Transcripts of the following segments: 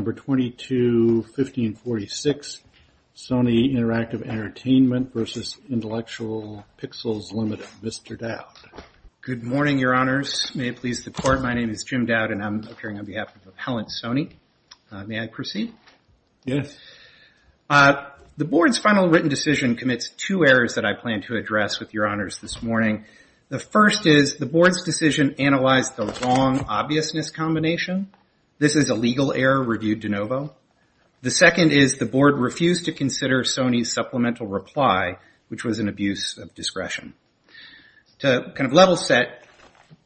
221546 Sony Interactive Entertainment versus Intellectual Pixels Limited. Mr. Dowd. Good morning, your honors. May it please the court, my name is Jim Dowd and I'm appearing on behalf of Appellant Sony. May I proceed? Yes. The board's final written decision commits two errors that I plan to address with your honors this morning. The first is the board's decision analyzed the wrong obviousness combination. This is a legal error reviewed de novo. The second is the board refused to consider Sony's supplemental reply, which was an abuse of discretion. To kind of level set,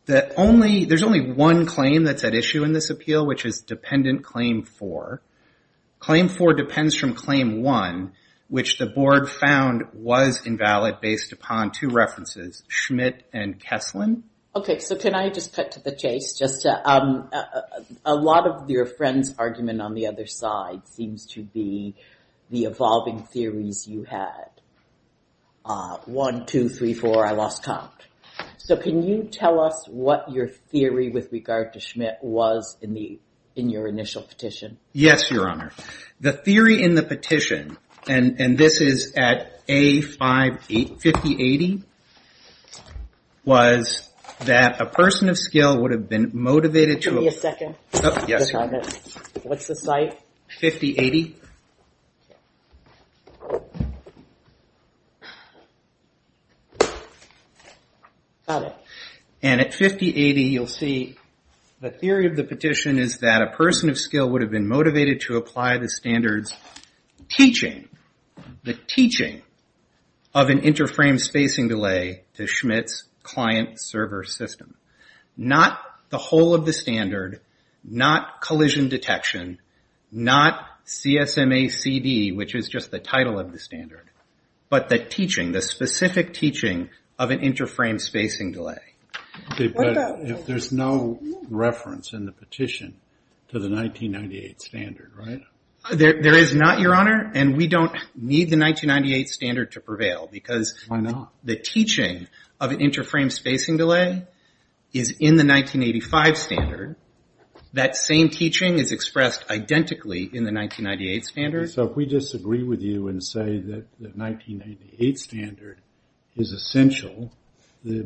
there's only one claim that's at issue in this appeal, which is dependent claim four. Claim four depends from claim one, which the board found was invalid based upon two references, Schmidt and Kesslin. Okay, so can I just cut to the chase? Just a lot of your friend's argument on the other side seems to be the evolving theories you had. One, two, three, four, I lost count. So can you tell us what your theory with regard to Schmidt was in the in your initial petition? Yes, your honor. The theory in the petition, and this is at A58, 5080, was that a person of skill would have been motivated to- Give me a second. Yes, your honor. What's the site? 5080. Got it. And at 5080, you'll see the theory of the petition is that a person of skill would have been motivated to apply the standards teaching, the teaching, of an inter-frame spacing delay to Schmidt's client server system. Not the whole of the standard, not collision detection, not CSMACD, which is just the Okay, but there's no reference in the petition to the 1998 standard, right? There is not, your honor, and we don't need the 1998 standard to prevail because- Why not? The teaching of an inter-frame spacing delay is in the 1985 standard. That same teaching is expressed identically in the 1998 standard. So if we disagree with you and say that the 1988 standard is essential, the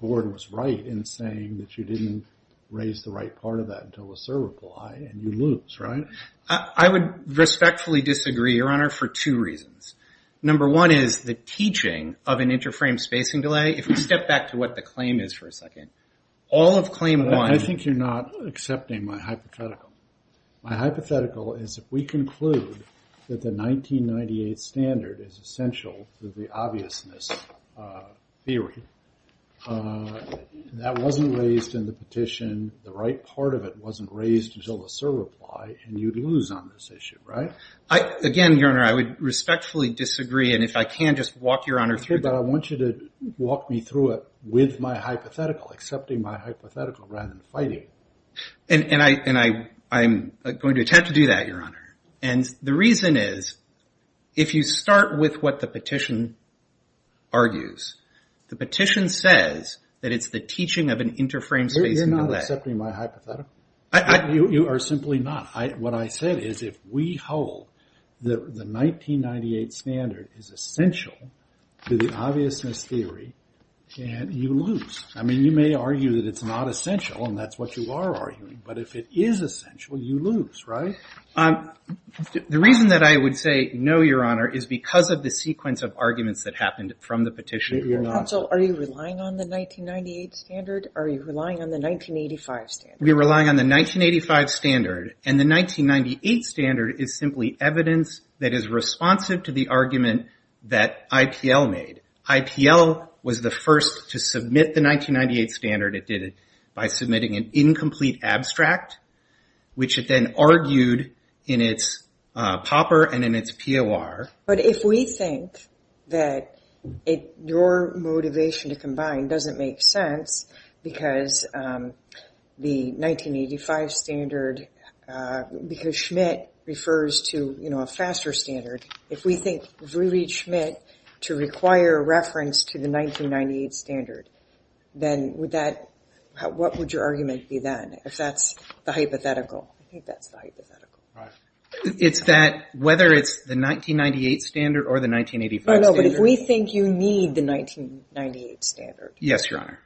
board was right in saying that you didn't raise the right part of that until a server fly and you lose, right? I would respectfully disagree, your honor, for two reasons. Number one is the teaching of an inter-frame spacing delay, if we step back to what the claim is for a second, all of claim one- I think you're not accepting my hypothetical. My hypothetical is if we conclude that the 1998 standard is essential to the obviousness theory, that wasn't raised in the petition, the right part of it wasn't raised until the server fly, and you'd lose on this issue, right? Again, your honor, I would respectfully disagree, and if I can, just walk your honor through that. But I want you to walk me through it with my hypothetical, accepting my hypothetical rather than fighting. And I'm going to attempt to do that, your honor. And the reason is, if you start with what the petition argues, the petition says that it's the teaching of an inter-frame spacing delay. You're not accepting my hypothetical. You are simply not. What I said is, if we hold that the 1998 standard is essential to the obviousness theory, you lose. I mean, you may argue that it's not essential, and that's what you are arguing, but if it is essential, you lose, right? The reason that I would say no, your honor, is because of the sequence of arguments that happened from the petition. Counsel, are you relying on the 1998 standard? Are you relying on the 1985 standard? We're relying on the 1985 standard, and the 1998 standard is simply evidence that is responsive to the argument that IPL made. IPL was the first to submit the 1998 standard. It did it by submitting an incomplete abstract, which it then argued in its POPR and in its POR. But if we think that your motivation to combine doesn't make sense because the 1985 standard, because Schmidt refers to a faster standard, if we think we need Schmidt to require reference to the 1998 standard, then what would your argument be then, if that's the hypothetical? I think that's the hypothetical. It's that whether it's the 1998 standard or the 1985 standard. No, no, but if we think you need the 1998 standard. Yes, your honor.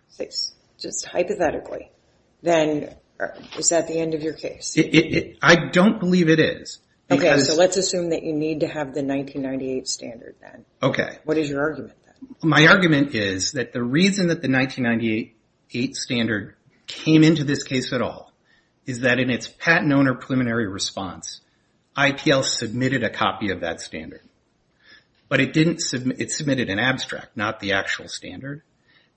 Just hypothetically, then is that the end of your case? I don't believe it is. Okay, so let's assume that you need to have the 1998 standard then. Okay. What is your argument then? My argument is that the reason that the 1998 standard came into this case at all is that in its patent owner preliminary response, IPL submitted a copy of that standard, but it submitted an abstract, not the actual standard,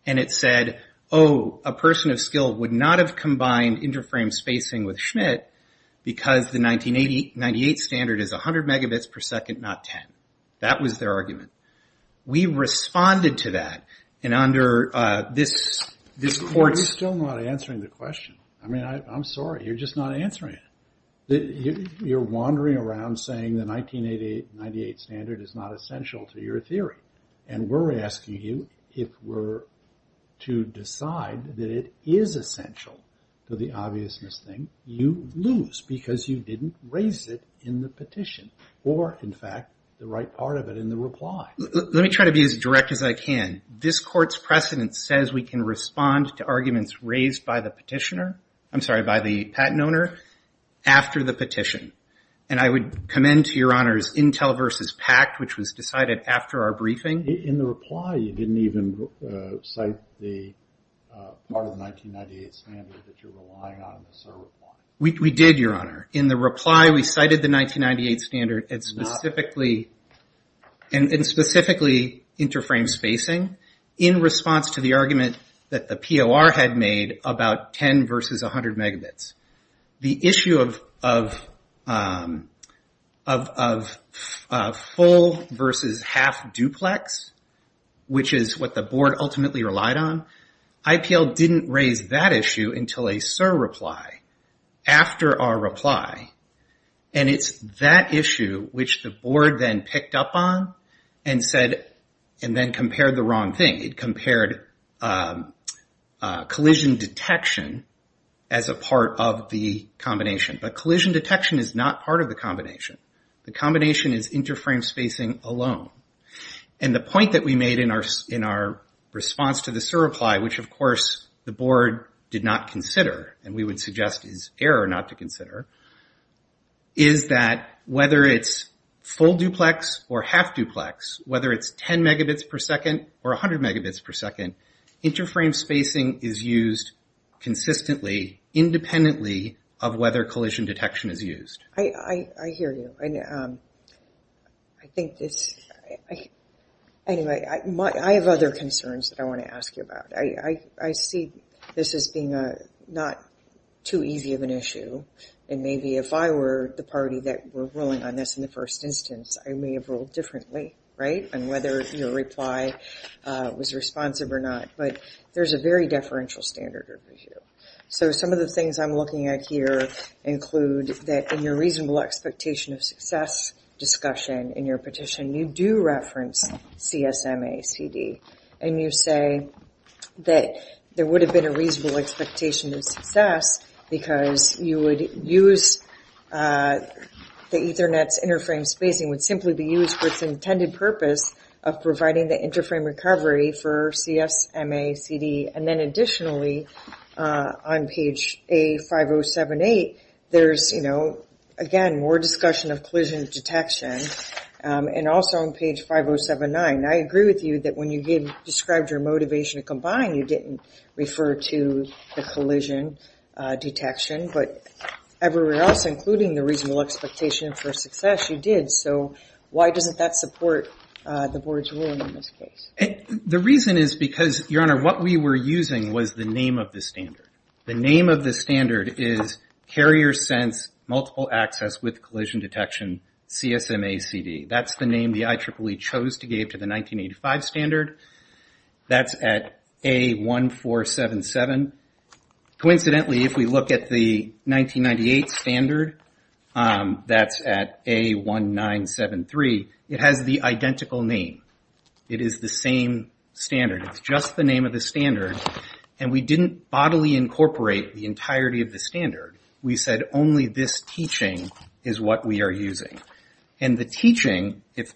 and it said, oh, a person of skill would not have combined inter-frame spacing with Schmidt because the 1998 standard is 100 megabits per second, not 10. That was their argument. We responded to that, and under this court's- You're still not answering the question. I mean, I'm sorry. You're just not answering it. You're wandering around saying the 1988 standard is not essential to your theory, and we're asking you if we're to decide that it is essential to the obviousness thing, because you didn't raise it in the petition or, in fact, the right part of it in the reply. Let me try to be as direct as I can. This court's precedent says we can respond to arguments raised by the petitioner, I'm sorry, by the patent owner, after the petition, and I would commend to your honors Intel versus PACT, which was decided after our briefing. In the reply, you didn't even cite the part of the 1998 standard that you're relying on in the cert reply. We did, your honor. In the reply, we cited the 1998 standard and specifically inter-frame spacing in response to the argument that the POR had made about 10 versus 100 megabits. The issue of full versus half duplex, which is what the board ultimately relied on, IPL didn't raise that issue until a cert reply after our reply, and it's that issue which the board then picked up on and then compared the wrong thing. It compared collision detection as a part of the combination, but collision detection is not part of the combination. The combination is inter-frame spacing alone, and the point that we made in our response to the cert reply, which, of course, the board did not consider and we would suggest is error not to consider, is that whether it's full duplex or half duplex, whether it's 10 megabits per second or 100 megabits per second, inter-frame spacing is used consistently independently of whether collision detection is used. I hear you. Anyway, I have other concerns that I want to ask you about. I see this as being not too easy of an issue, and maybe if I were the party that were ruling on this in the first instance, I may have ruled differently, right, on whether your reply was responsive or not, but there's a very deferential standard over here. So some of the things I'm looking at here include that in your reasonable expectation of success discussion in your petition, you do reference CSMACD, and you say that there would have been a reasonable expectation of success because you would use the Ethernet's inter-frame spacing would simply be used for its intended purpose of providing the inter-frame recovery for CSMACD, and then additionally, on page A5078, there's, you know, again, more discussion of collision detection, and also on page 5079. I agree with you that when you described your motivation to combine, you didn't refer to the collision detection, but everywhere else, including the reasonable expectation for success, you did. So why doesn't that support the Board's ruling in this case? The reason is because, Your Honor, what we were using was the name of the standard. The name of the standard is Carrier Sense Multiple Access with Collision Detection, CSMACD. That's the name the IEEE chose to give to the 1985 standard. That's at A1477. Coincidentally, if we look at the 1998 standard, that's at A1973. It has the identical name. It is the same standard. It's just the name of the standard, and we didn't bodily incorporate the entirety of the standard. We said only this teaching is what we are using. And the teaching, if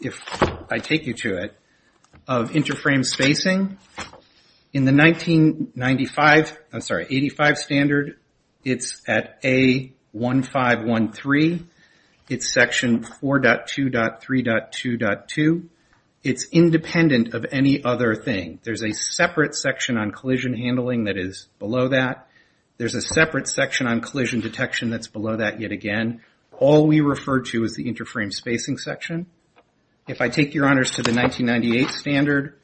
I take you to it, of inter-frame spacing, in the 1995, I'm sorry, 1985 standard, it's at A1513. It's section 4.2.3.2.2. It's independent of any other thing. There's a separate section on collision handling that is below that. There's a separate section on collision detection that's below that yet again. All we refer to is the inter-frame spacing section. If I take, Your Honors, to the 1998 standard,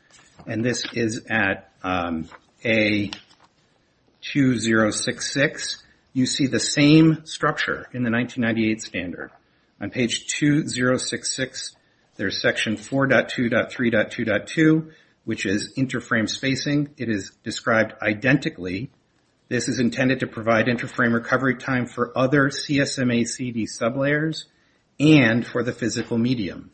and this is at A2066, you see the same structure in the 1998 standard. On page 2066, there's section 4.2.3.2.2, which is inter-frame spacing. It is described identically. This is intended to provide inter-frame recovery time for other CSMA CD sublayers and for the physical medium.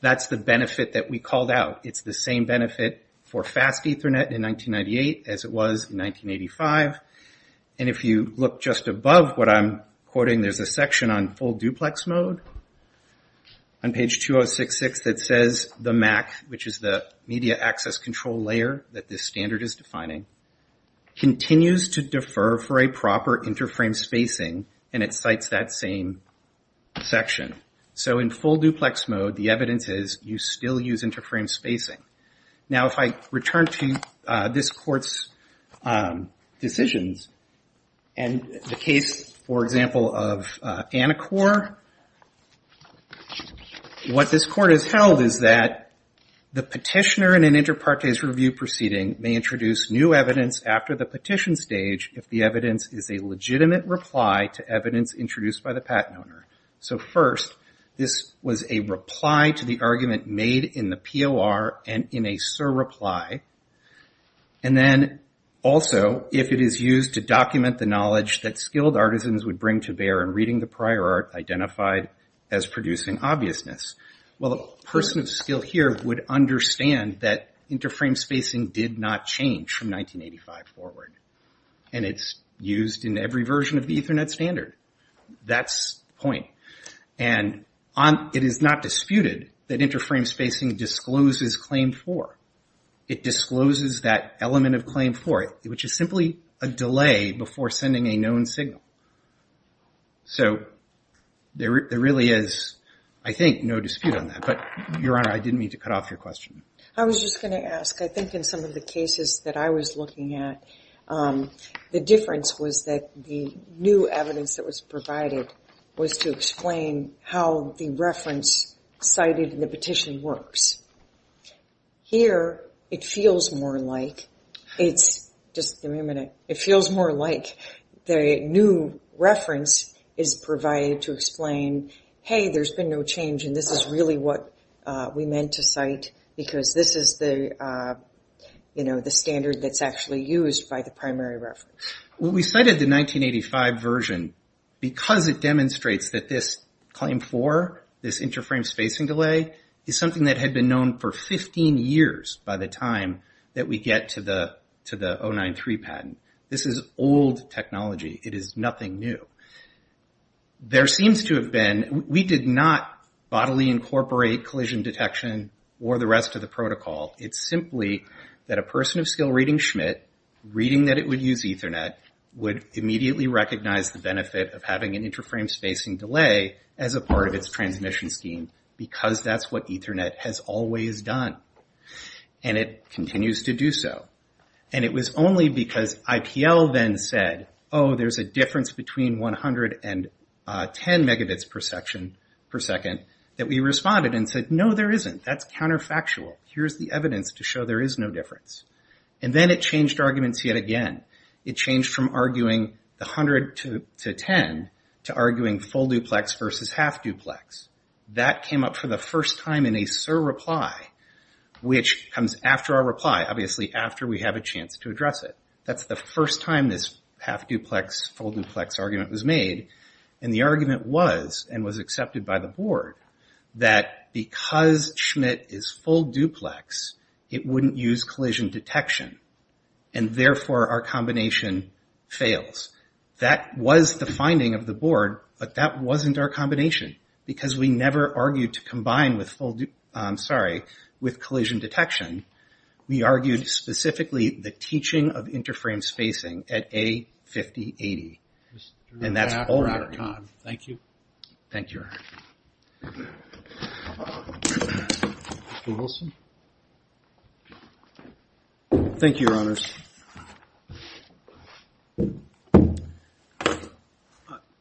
That's the benefit that we called out. It's the same benefit for fast Ethernet in 1998 as it was in 1985. If you look just above what I'm quoting, there's a section on full duplex mode. On page 2066, it says the MAC, which is the media access control layer that this standard is defining, continues to defer for a proper inter-frame spacing, and it cites that same section. In full duplex mode, the evidence is you still use inter-frame spacing. If I return to this court's decisions, and the case, for example, of Anacor, what this court has held is that the petitioner in an inter partes review proceeding may introduce new evidence after the petition stage if the evidence is a legitimate reply to evidence introduced by the patent owner. So first, this was a reply to the argument made in the POR and in a surreply, and then also if it is used to document the knowledge that skilled artisans would bring to bear in reading the prior art identified as producing obviousness. Well, a person of skill here would understand that inter-frame spacing did not change from 1985 forward, and it's used in every version of the Ethernet standard. That's the point. And it is not disputed that inter-frame spacing discloses Claim 4. It discloses that element of Claim 4, which is simply a delay before sending a known signal. So there really is, I think, no dispute on that, but Your Honor, I didn't mean to cut off your question. I was just going to ask. I think in some of the cases that I was looking at, the difference was that the new evidence that was provided was to explain how the reference cited in the petition works. Here, it feels more like it's just a minute. It feels more like the new reference is provided to explain, hey, there's been no change, and this is really what we meant to cite because this is the standard that's actually used by the primary reference. Well, we cited the 1985 version because it demonstrates that this Claim 4, this inter-frame spacing delay, is something that had been known for 15 years by the time that we get to the 093 patent. This is old technology. It is nothing new. There seems to have been, we did not bodily incorporate collision detection or the rest of the protocol. It's simply that a person of skill reading Schmidt, reading that it would use Ethernet, would immediately recognize the benefit of having an inter-frame spacing delay as a part of its transmission scheme because that's what Ethernet has always done, and it continues to do so. And it was only because IPL then said, oh, there's a difference between 100 and 10 megabits per section per second, that we responded and said, no, there isn't. That's counterfactual. Here's the evidence to show there is no difference. And then it changed arguments yet again. It changed from arguing the 100 to 10 to arguing full duplex versus half duplex. That came up for the first time in a SIR reply, which comes after our reply, obviously after we have a chance to address it. That's the first time this half duplex, full duplex argument was made, and the argument was, and was accepted by the board, that because Schmidt is full duplex, it wouldn't use collision detection, and therefore our combination fails. That was the finding of the board, but that wasn't our combination because we never argued to combine with collision detection. We argued specifically the teaching of inter-frame spacing at A5080, and that's all we argued. Thank you. Thank you, Your Honor. Mr. Wilson. Thank you, Your Honors.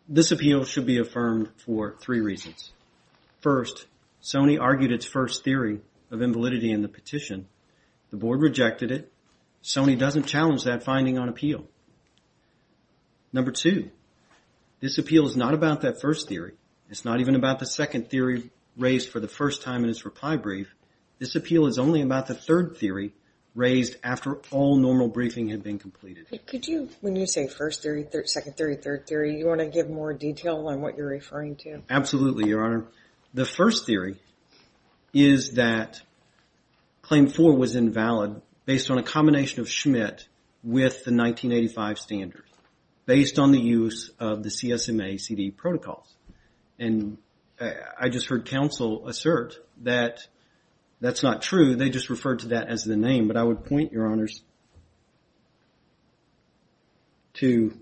This appeal should be affirmed for three reasons. First, Sony argued its first theory of invalidity in the petition. The board rejected it. Sony doesn't challenge that finding on appeal. Number two, this appeal is not about that first theory. It's not even about the second theory raised for the first time in its reply brief. This appeal is only about the third theory raised after all normal briefing had been completed. Could you, when you say first theory, second theory, third theory, you want to give more detail on what you're referring to? Absolutely, Your Honor. The first theory is that claim four was invalid based on a combination of Schmidt with the 1985 standards based on the use of the CSMA CD protocols. And I just heard counsel assert that that's not true. They just referred to that as the name. But I would point, Your Honors, to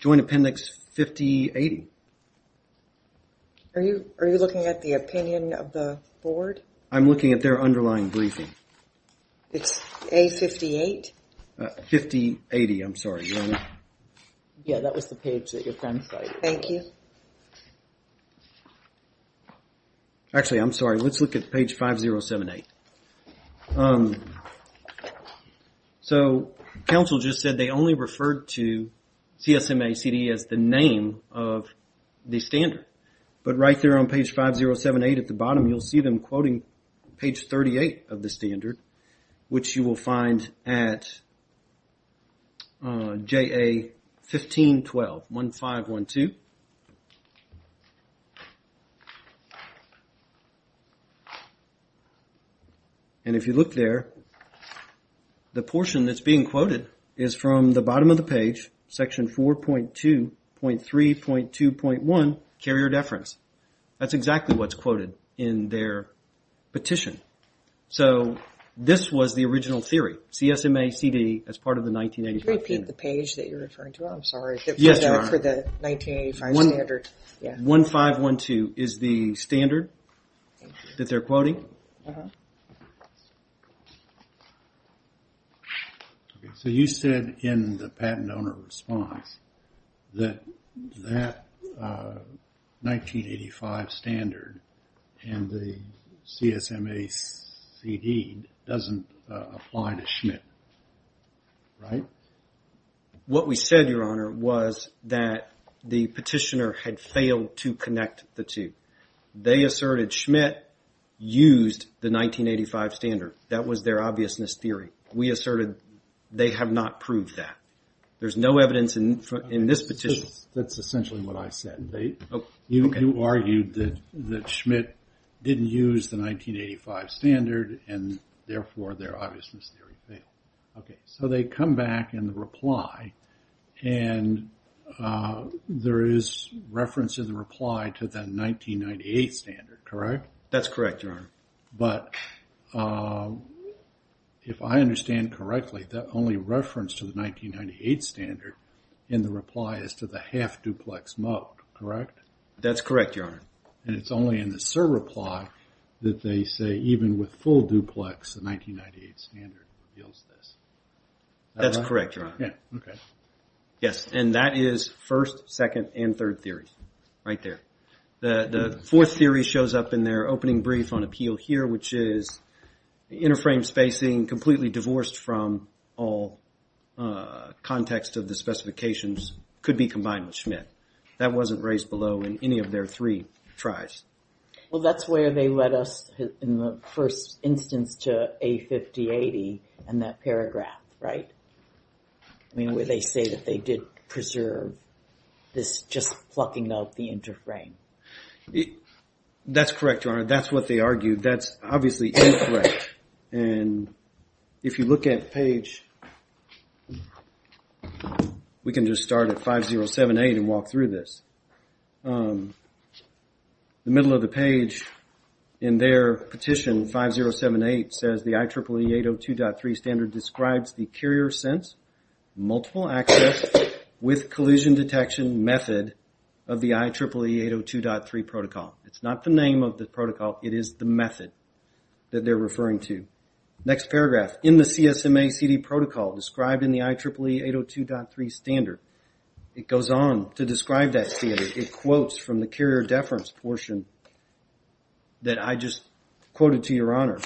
Joint Appendix 5080. Are you looking at the opinion of the board? I'm looking at their underlying briefing. It's A58? 5080, I'm sorry. Yeah, that was the page that your friend cited. Thank you. Actually, I'm sorry. Let's look at page 5078. So counsel just said they only referred to CSMA CD as the name of the standard. But right there on page 5078 at the bottom, you'll see them quoting page 38 of the standard, which you will find at JA 1512, 1512. And if you look there, the portion that's being quoted is from the bottom of the page, section 4.2.3.2.1, carrier deference. That's exactly what's quoted in their petition. So this was the original theory, CSMA CD as part of the 1985 standard. Could you repeat the page that you're referring to? I'm sorry. Yes, Your Honor. 1512 is the standard that they're quoting? Uh-huh. So you said in the patent owner response that that 1985 standard and the CSMA CD doesn't apply to Schmidt, right? What we said, Your Honor, was that the petitioner had failed to connect the two. They asserted Schmidt used the 1985 standard. That was their obviousness theory. We asserted they have not proved that. There's no evidence in this petition. That's essentially what I said. You argued that Schmidt didn't use the 1985 standard and therefore their obviousness theory failed. Okay, so they come back in the reply and there is reference in the reply to the 1998 standard, correct? That's correct, Your Honor. But if I understand correctly, the only reference to the 1998 standard in the reply is to the half-duplex mode, correct? That's correct, Your Honor. And it's only in the server reply that they say even with full-duplex, the 1998 standard reveals this. That's correct, Your Honor. Okay. Yes, and that is first, second, and third theory. Right there. The fourth theory shows up in their opening brief on appeal here, which is the inner frame spacing completely divorced from all context of the specifications could be combined with Schmidt. That wasn't raised below in any of their three tries. Well, that's where they led us in the first instance to A5080 and that paragraph, right? I mean, where they say that they did preserve this just plucking out the inner frame. That's correct, Your Honor. That's what they argued. That's obviously incorrect. And if you look at page, we can just start at 5078 and walk through this. The middle of the page in their petition, 5078, says the IEEE 802.3 standard describes the carrier sense, multiple access with collusion detection method of the IEEE 802.3 protocol. It's not the name of the protocol. It is the method that they're referring to. Next paragraph, in the CSMA CD protocol described in the IEEE 802.3 standard, it goes on to describe that standard. It quotes from the carrier deference portion that I just quoted to Your Honor.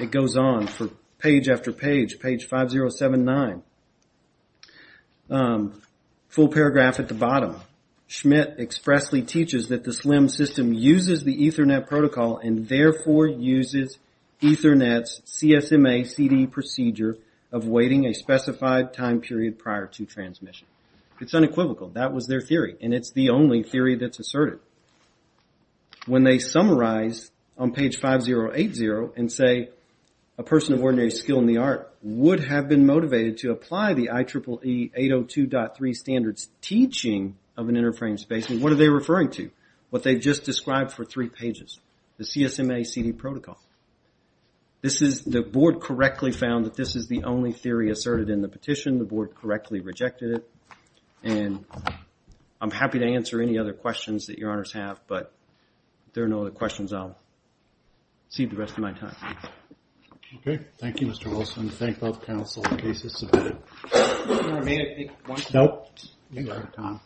It goes on for page after page, page 5079. Full paragraph at the bottom. Schmidt expressly teaches that the SLIM system uses the Ethernet protocol and therefore uses Ethernet's CSMA CD procedure of waiting a specified time period prior to transmission. It's unequivocal. That was their theory, and it's the only theory that's asserted. When they summarize on page 5080 and say, a person of ordinary skill in the art would have been motivated to apply the IEEE 802.3 standard's teaching of an inter-frame spacing, what are they referring to? What they've just described for three pages. The CSMA CD protocol. The board correctly found that this is the only theory asserted in the petition. The board correctly rejected it. And I'm happy to answer any other questions that Your Honors have, but if there are no other questions, I'll save the rest of my time. Okay. Thank you, Mr. Wilson. Thank both counsel in case it's submitted. Your Honor, may I take one? Nope. You're out of time.